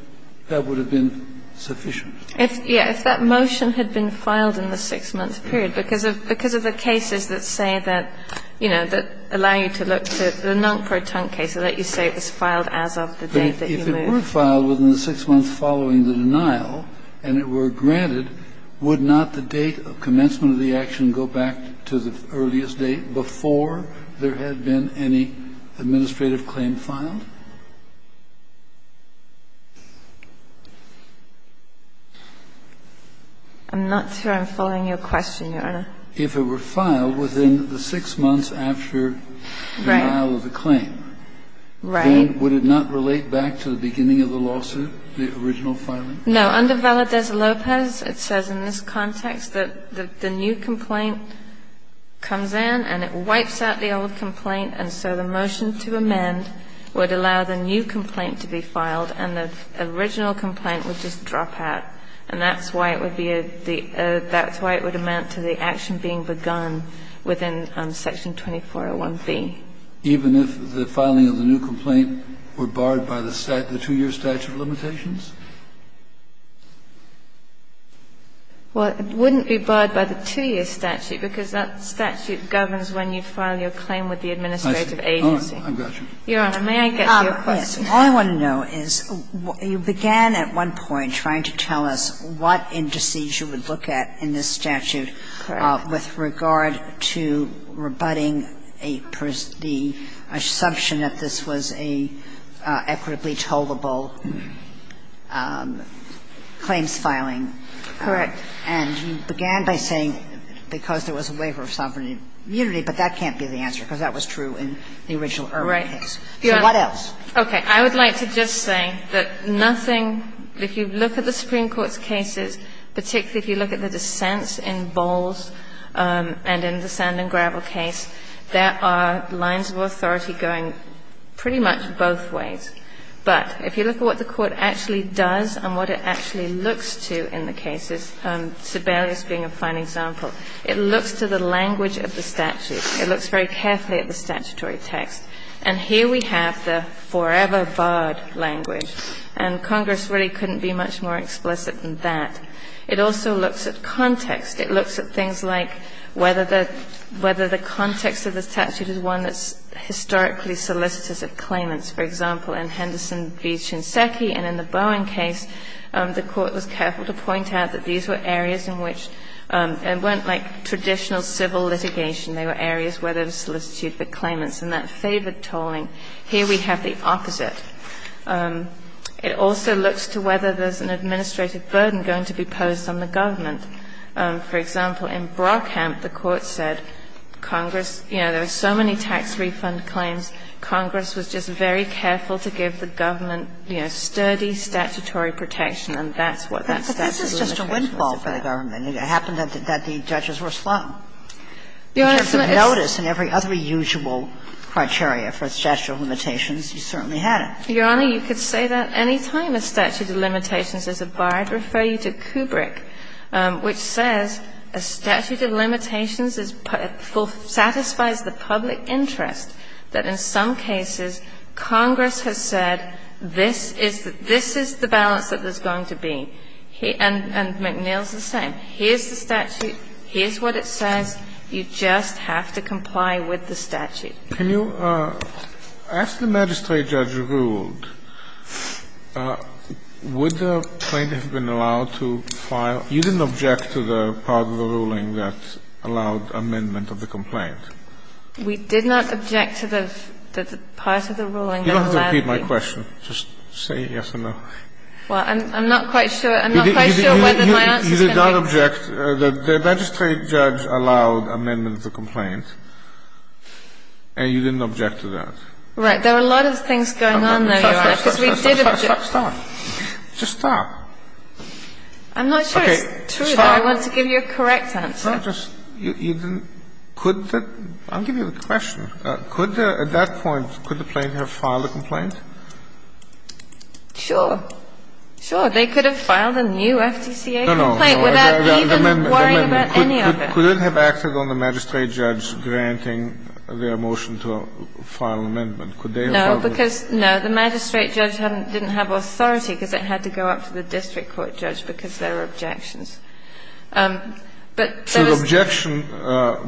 that would have been sufficient. If, yeah, if that motion had been filed in the six-month period, because of the cases that say that, you know, that allow you to look to the non-proton case, I'll let you say it was filed as of the date that you moved. But if it were filed within the six months following the denial and it were granted, would not the date of commencement of the action go back to the earliest date before there had been any administrative claim filed? I'm not sure I'm following your question, Your Honor. If it were filed within the six months after the denial of the claim, then would it not relate back to the beginning of the lawsuit, the original filing? No. Under Valadez-Lopez, it says in this context that the new complaint comes in and it would allow the new complaint to be filed and the original complaint would just drop out, and that's why it would be the – that's why it would amount to the action being begun within Section 2401B. Even if the filing of the new complaint were barred by the two-year statute of limitations? Well, it wouldn't be barred by the two-year statute because that statute governs when you file your claim with the administrative agency. I've got you. Your Honor, may I get to your question? All I want to know is, you began at one point trying to tell us what indices you would look at in this statute with regard to rebutting the assumption that this was an equitably tollable claims filing. Correct. And you began by saying because there was a waiver of sovereignty and immunity, but that can't be the answer because that was true in the original Irwin case. Right. So what else? Okay. I would like to just say that nothing, if you look at the Supreme Court's cases, particularly if you look at the dissents in Bowles and in the Sand and Gravel case, there are lines of authority going pretty much both ways. But if you look at what the Court actually does and what it actually looks to in the It looks very carefully at the statutory text. And here we have the forever barred language. And Congress really couldn't be much more explicit than that. It also looks at context. It looks at things like whether the context of the statute is one that's historically solicitous of claimants. For example, in Henderson v. Shinseki and in the Bowen case, the Court was careful to point out that these were areas in which it weren't like traditional civil litigation. They were areas where there was solicitude for claimants. And that favored tolling. Here we have the opposite. It also looks to whether there's an administrative burden going to be posed on the government. For example, in Brockhamp, the Court said Congress, you know, there are so many tax refund claims. Congress was just very careful to give the government, you know, sturdy statutory protection, and that's what that statutory protection was about. But this is just a windfall for the government. It happened that the judges were slow. In terms of notice and every other usual criteria for a statute of limitations, you certainly had it. Your Honor, you could say that any time a statute of limitations is a bar. I'd refer you to Kubrick, which says a statute of limitations is full of the public interest that in some cases Congress has said this is the balance that there's going to be. And McNeil's the same. Here's the statute. Here's what it says. You just have to comply with the statute. Can you ask the magistrate judge who ruled, would the complaint have been allowed to file? You didn't object to the part of the ruling that allowed amendment of the complaint. We did not object to the part of the ruling that allowed it. You don't have to repeat my question. Just say yes or no. I'm not quite sure whether my answer's going to be correct. You did not object. The magistrate judge allowed amendment of the complaint. And you didn't object to that. Right. There are a lot of things going on, though, Your Honor, because we did object. Stop, stop, stop. Just stop. I'm not sure it's true, though. I want to give you a correct answer. You didn't – could the – I'll give you the question. Could the – at that point, could the plaintiff have filed a complaint? Sure. Sure. They could have filed a new FTCA complaint. No, no, no. Without even worrying about any of it. Could it have acted on the magistrate judge granting their motion to file an amendment? Could they have filed it? No, because – no, the magistrate judge didn't have authority because it had to go up to the district court judge because there were objections. But there was – So the objection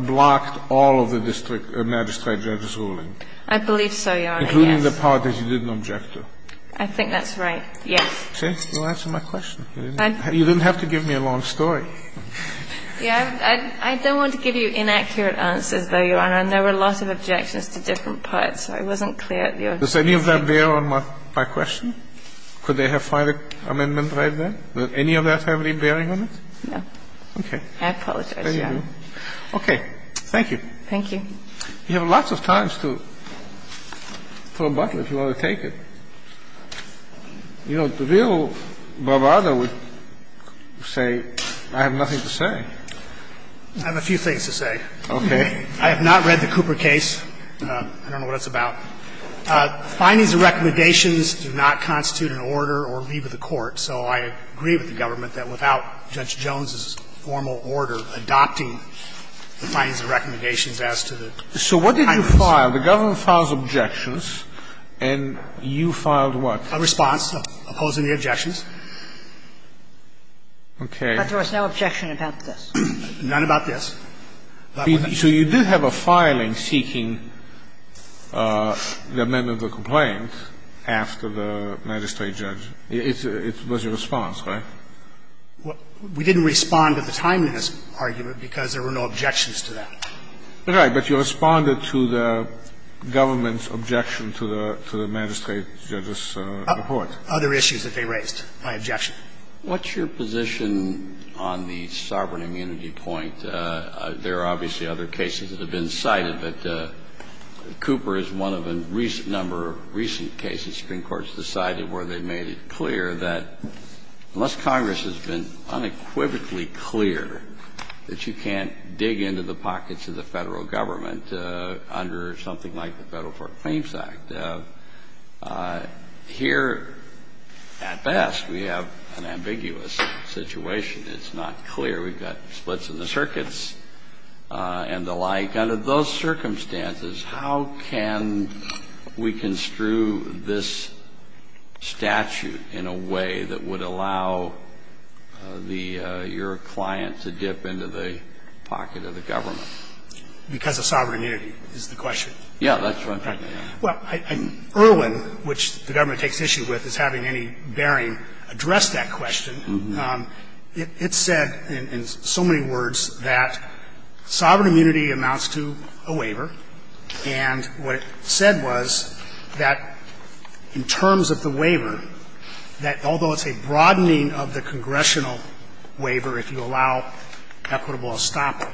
blocked all of the district magistrate judge's ruling. I believe so, Your Honor, yes. Including the part that you didn't object to. I think that's right, yes. See, you answered my question. You didn't have to give me a long story. Yeah, I don't want to give you inaccurate answers, though, Your Honor, and there were lots of objections to different parts. I wasn't clear. Does any of that bear on my question? Could they have filed an amendment right then? Does any of that have any bearing on it? No. Okay. I apologize, Your Honor. Okay. Thank you. Thank you. You have lots of time to throw a bottle if you want to take it. You know, the real bravado would say, I have nothing to say. I have a few things to say. Okay. I have not read the Cooper case. I don't know what it's about. Findings and recommendations do not constitute an order or leave of the court. So I agree with the government that without Judge Jones's formal order adopting the findings and recommendations as to the timings. So what did you file? The government files objections, and you filed what? A response opposing the objections. Okay. But there was no objection about this. None about this. So you did have a filing seeking the amendment of the complaint after the magistrate judge. It was your response, right? We didn't respond at the time to this argument because there were no objections to that. Right. But you responded to the government's objection to the magistrate judge's report. Other issues that they raised, my objection. What's your position on the sovereign immunity point? There are obviously other cases that have been cited, but Cooper is one of a number of recent cases Supreme Court has decided where they made it clear that unless Congress has been unequivocally clear that you can't dig into the pockets of the Federal Government under something like the Federal Court Claims Act, here at best we have an ambiguous situation. It's not clear. We've got splits in the circuits and the like. Under those circumstances, how can we construe this statute in a way that would allow the your client to dip into the pocket of the government? Because of sovereign immunity is the question. Yeah, that's what I'm trying to get at. Well, Erwin, which the government takes issue with, is having any bearing address that question. It's said in so many words that sovereign immunity amounts to a waiver. And what it said was that in terms of the waiver, that although it's a broadening of the congressional waiver, if you allow equitable estoppel,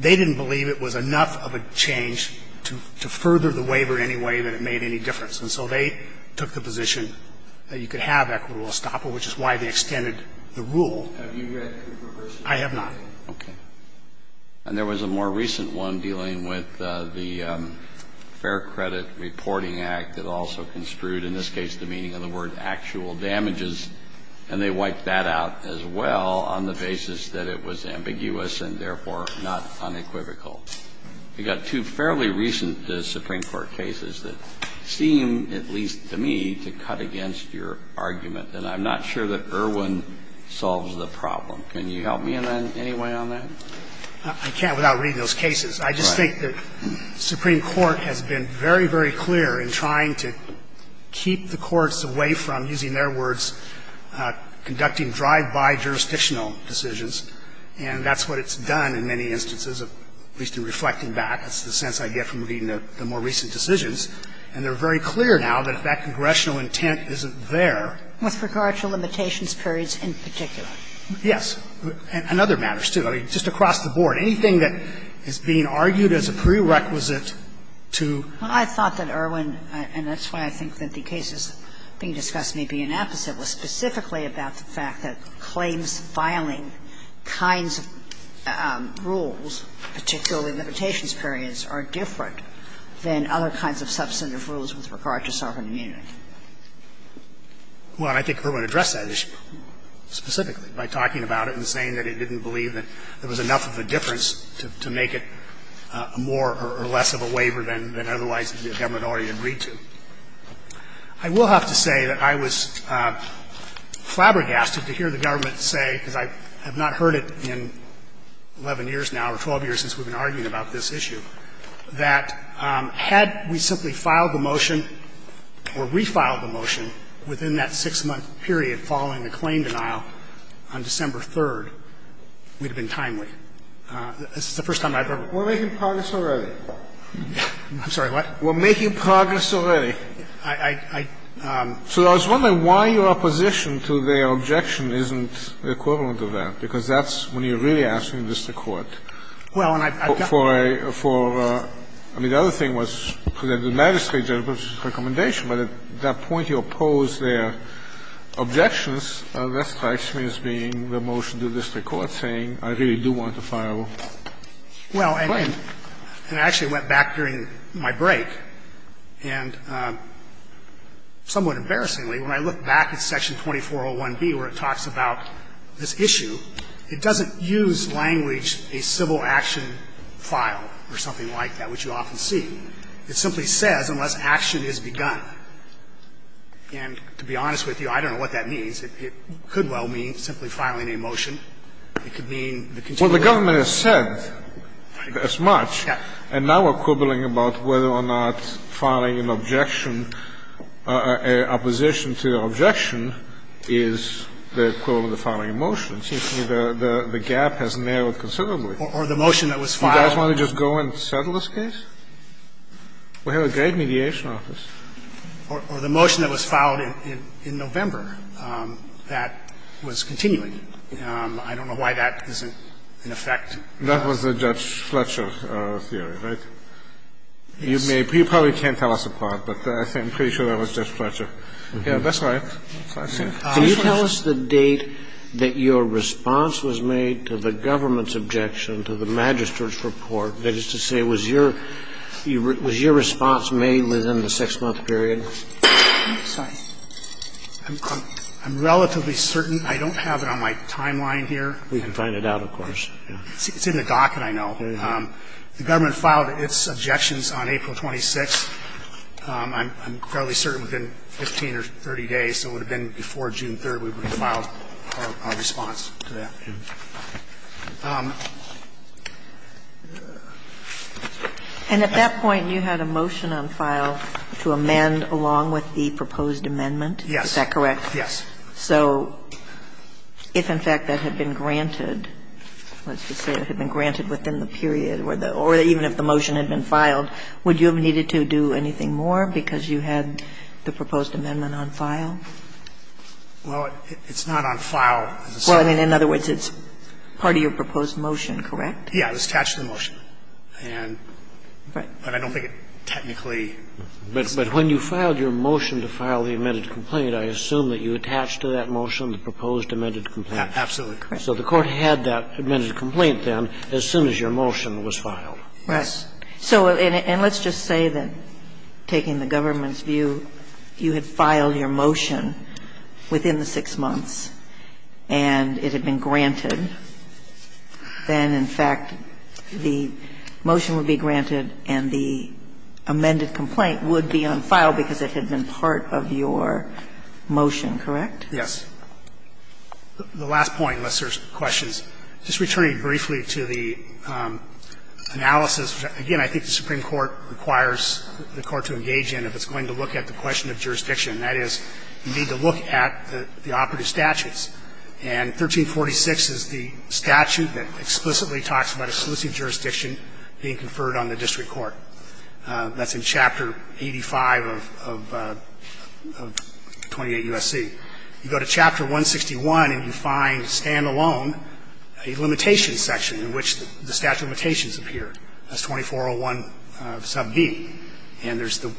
they didn't believe it was enough of a change to further the waiver in any way that it made any difference. And so they took the position that you could have equitable estoppel, which is why they extended the rule. Have you read Cooper's version? I have not. Okay. And there was a more recent one dealing with the Fair Credit Reporting Act that also construed, in this case, the meaning of the word actual damages, and they wiped that out as well on the basis that it was ambiguous and therefore not unequivocal. We've got two fairly recent Supreme Court cases that seem, at least to me, to cut against your argument, and I'm not sure that Erwin solves the problem. Can you help me in any way on that? I can't without reading those cases. Right. Well, I think the Supreme Court has been very, very clear in trying to keep the courts away from, using their words, conducting drive-by jurisdictional decisions. And that's what it's done in many instances, at least in reflecting back. That's the sense I get from reading the more recent decisions. And they're very clear now that if that congressional intent isn't there. With regard to limitations periods in particular. Yes. And other matters, too. Just across the board. Anything that is being argued as a prerequisite to. Well, I thought that Erwin, and that's why I think that the cases being discussed may be inapposite, was specifically about the fact that claims filing kinds of rules, particularly limitations periods, are different than other kinds of substantive rules with regard to sovereign immunity. Well, I think Erwin addressed that issue specifically by talking about it and saying that it didn't believe that there was enough of a difference to make it more or less of a waiver than otherwise the government already agreed to. I will have to say that I was flabbergasted to hear the government say, because I have not heard it in 11 years now or 12 years since we've been arguing about this issue, that had we simply filed the motion or refiled the motion within that 6-month period following the claim denial on December 3rd, we'd have been timely. This is the first time I've ever heard of it. We're making progress already. I'm sorry, what? We're making progress already. I, I, I. So I was wondering why your opposition to their objection isn't the equivalent of that, because that's when you're really asking this to court. Well, and I've got. For a, for, I mean, the other thing was the magistrate's recommendation. But at that point, you oppose their objections. That strikes me as being the motion to this Court saying, I really do want to file a claim. Well, and I actually went back during my break, and somewhat embarrassingly, when I look back at Section 2401B where it talks about this issue, it doesn't use language, a civil action file or something like that, which you often see. It simply says, unless action is begun. And to be honest with you, I don't know what that means. It could well mean simply filing a motion. It could mean the continual. Well, the government has said as much. Yes. And now we're quibbling about whether or not filing an objection, opposition to the objection is the equivalent of filing a motion. It seems to me the, the gap has narrowed considerably. Or the motion that was filed. Do you guys want to just go and settle this case? We have a great mediation office. Or the motion that was filed in November that was continuing. I don't know why that isn't in effect. That was the Judge Fletcher theory, right? Yes. You probably can't tell us apart, but I'm pretty sure that was Judge Fletcher. That's right. Can you tell us the date that your response was made to the government's objection to the Magistrate's report? That is to say, was your response made within the 6-month period? I'm sorry. I'm relatively certain. I don't have it on my timeline here. We can find it out, of course. It's in the docket, I know. The government filed its objections on April 26th. I'm fairly certain within 15 or 30 days, so it would have been before June 3rd, that we would have filed our response to that. And at that point, you had a motion on file to amend along with the proposed amendment? Yes. Is that correct? Yes. So if, in fact, that had been granted, let's just say it had been granted within the period or even if the motion had been filed, would you have needed to do anything more because you had the proposed amendment on file? Well, it's not on file. Well, in other words, it's part of your proposed motion, correct? Yes. It was attached to the motion. And I don't think it technically is. But when you filed your motion to file the amended complaint, I assume that you attached to that motion the proposed amended complaint. Absolutely. So the Court had that amended complaint then as soon as your motion was filed. Right. So, and let's just say that, taking the government's view, you had filed your motion within the 6 months and it had been granted. Then, in fact, the motion would be granted and the amended complaint would be on file because it had been part of your motion, correct? Yes. The last point, unless there's questions. Just returning briefly to the analysis, again, I think the Supreme Court requires the Court to engage in if it's going to look at the question of jurisdiction, and that is you need to look at the operative statutes. And 1346 is the statute that explicitly talks about exclusive jurisdiction being conferred on the district court. That's in Chapter 85 of 28 U.S.C. You go to Chapter 161 and you find standalone a limitation section in which the statute limitations appear. That's 2401 sub D. And there's the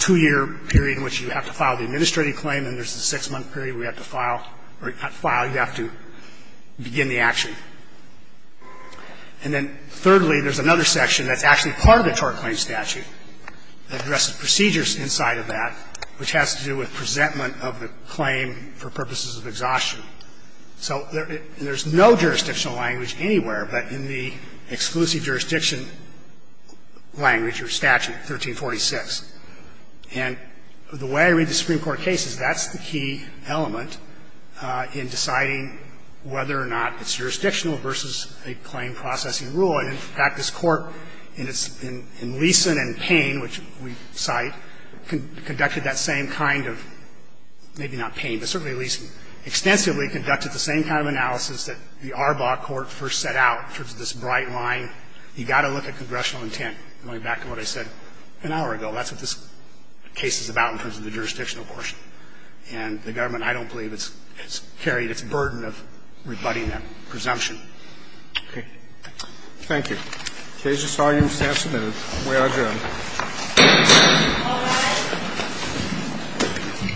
2-year period in which you have to file the administrative claim and there's the 6-month period where you have to file or not file, you have to begin the action. And then thirdly, there's another section that's actually part of the tort claim statute that addresses procedures inside of that, which has to do with presentment of the claim for purposes of exhaustion. So there's no jurisdictional language anywhere but in the exclusive jurisdiction language or statute 1346. And the way I read the Supreme Court case is that's the key element in deciding whether or not it's jurisdictional versus a claim processing rule. And in fact, this Court, in its leasing and pain, which we cite, conducted that same kind of, maybe not pain, but certainly leasing, extensively conducted the same kind of analysis that the Arbaugh Court first set out in terms of this bright line. You've got to look at congressional intent. Going back to what I said an hour ago, that's what this case is about in terms of the jurisdictional portion. And the government, I don't believe, has carried its burden of rebutting that presumption. Okay. Thank you. In case you saw your staff's note, we are adjourned. All rise.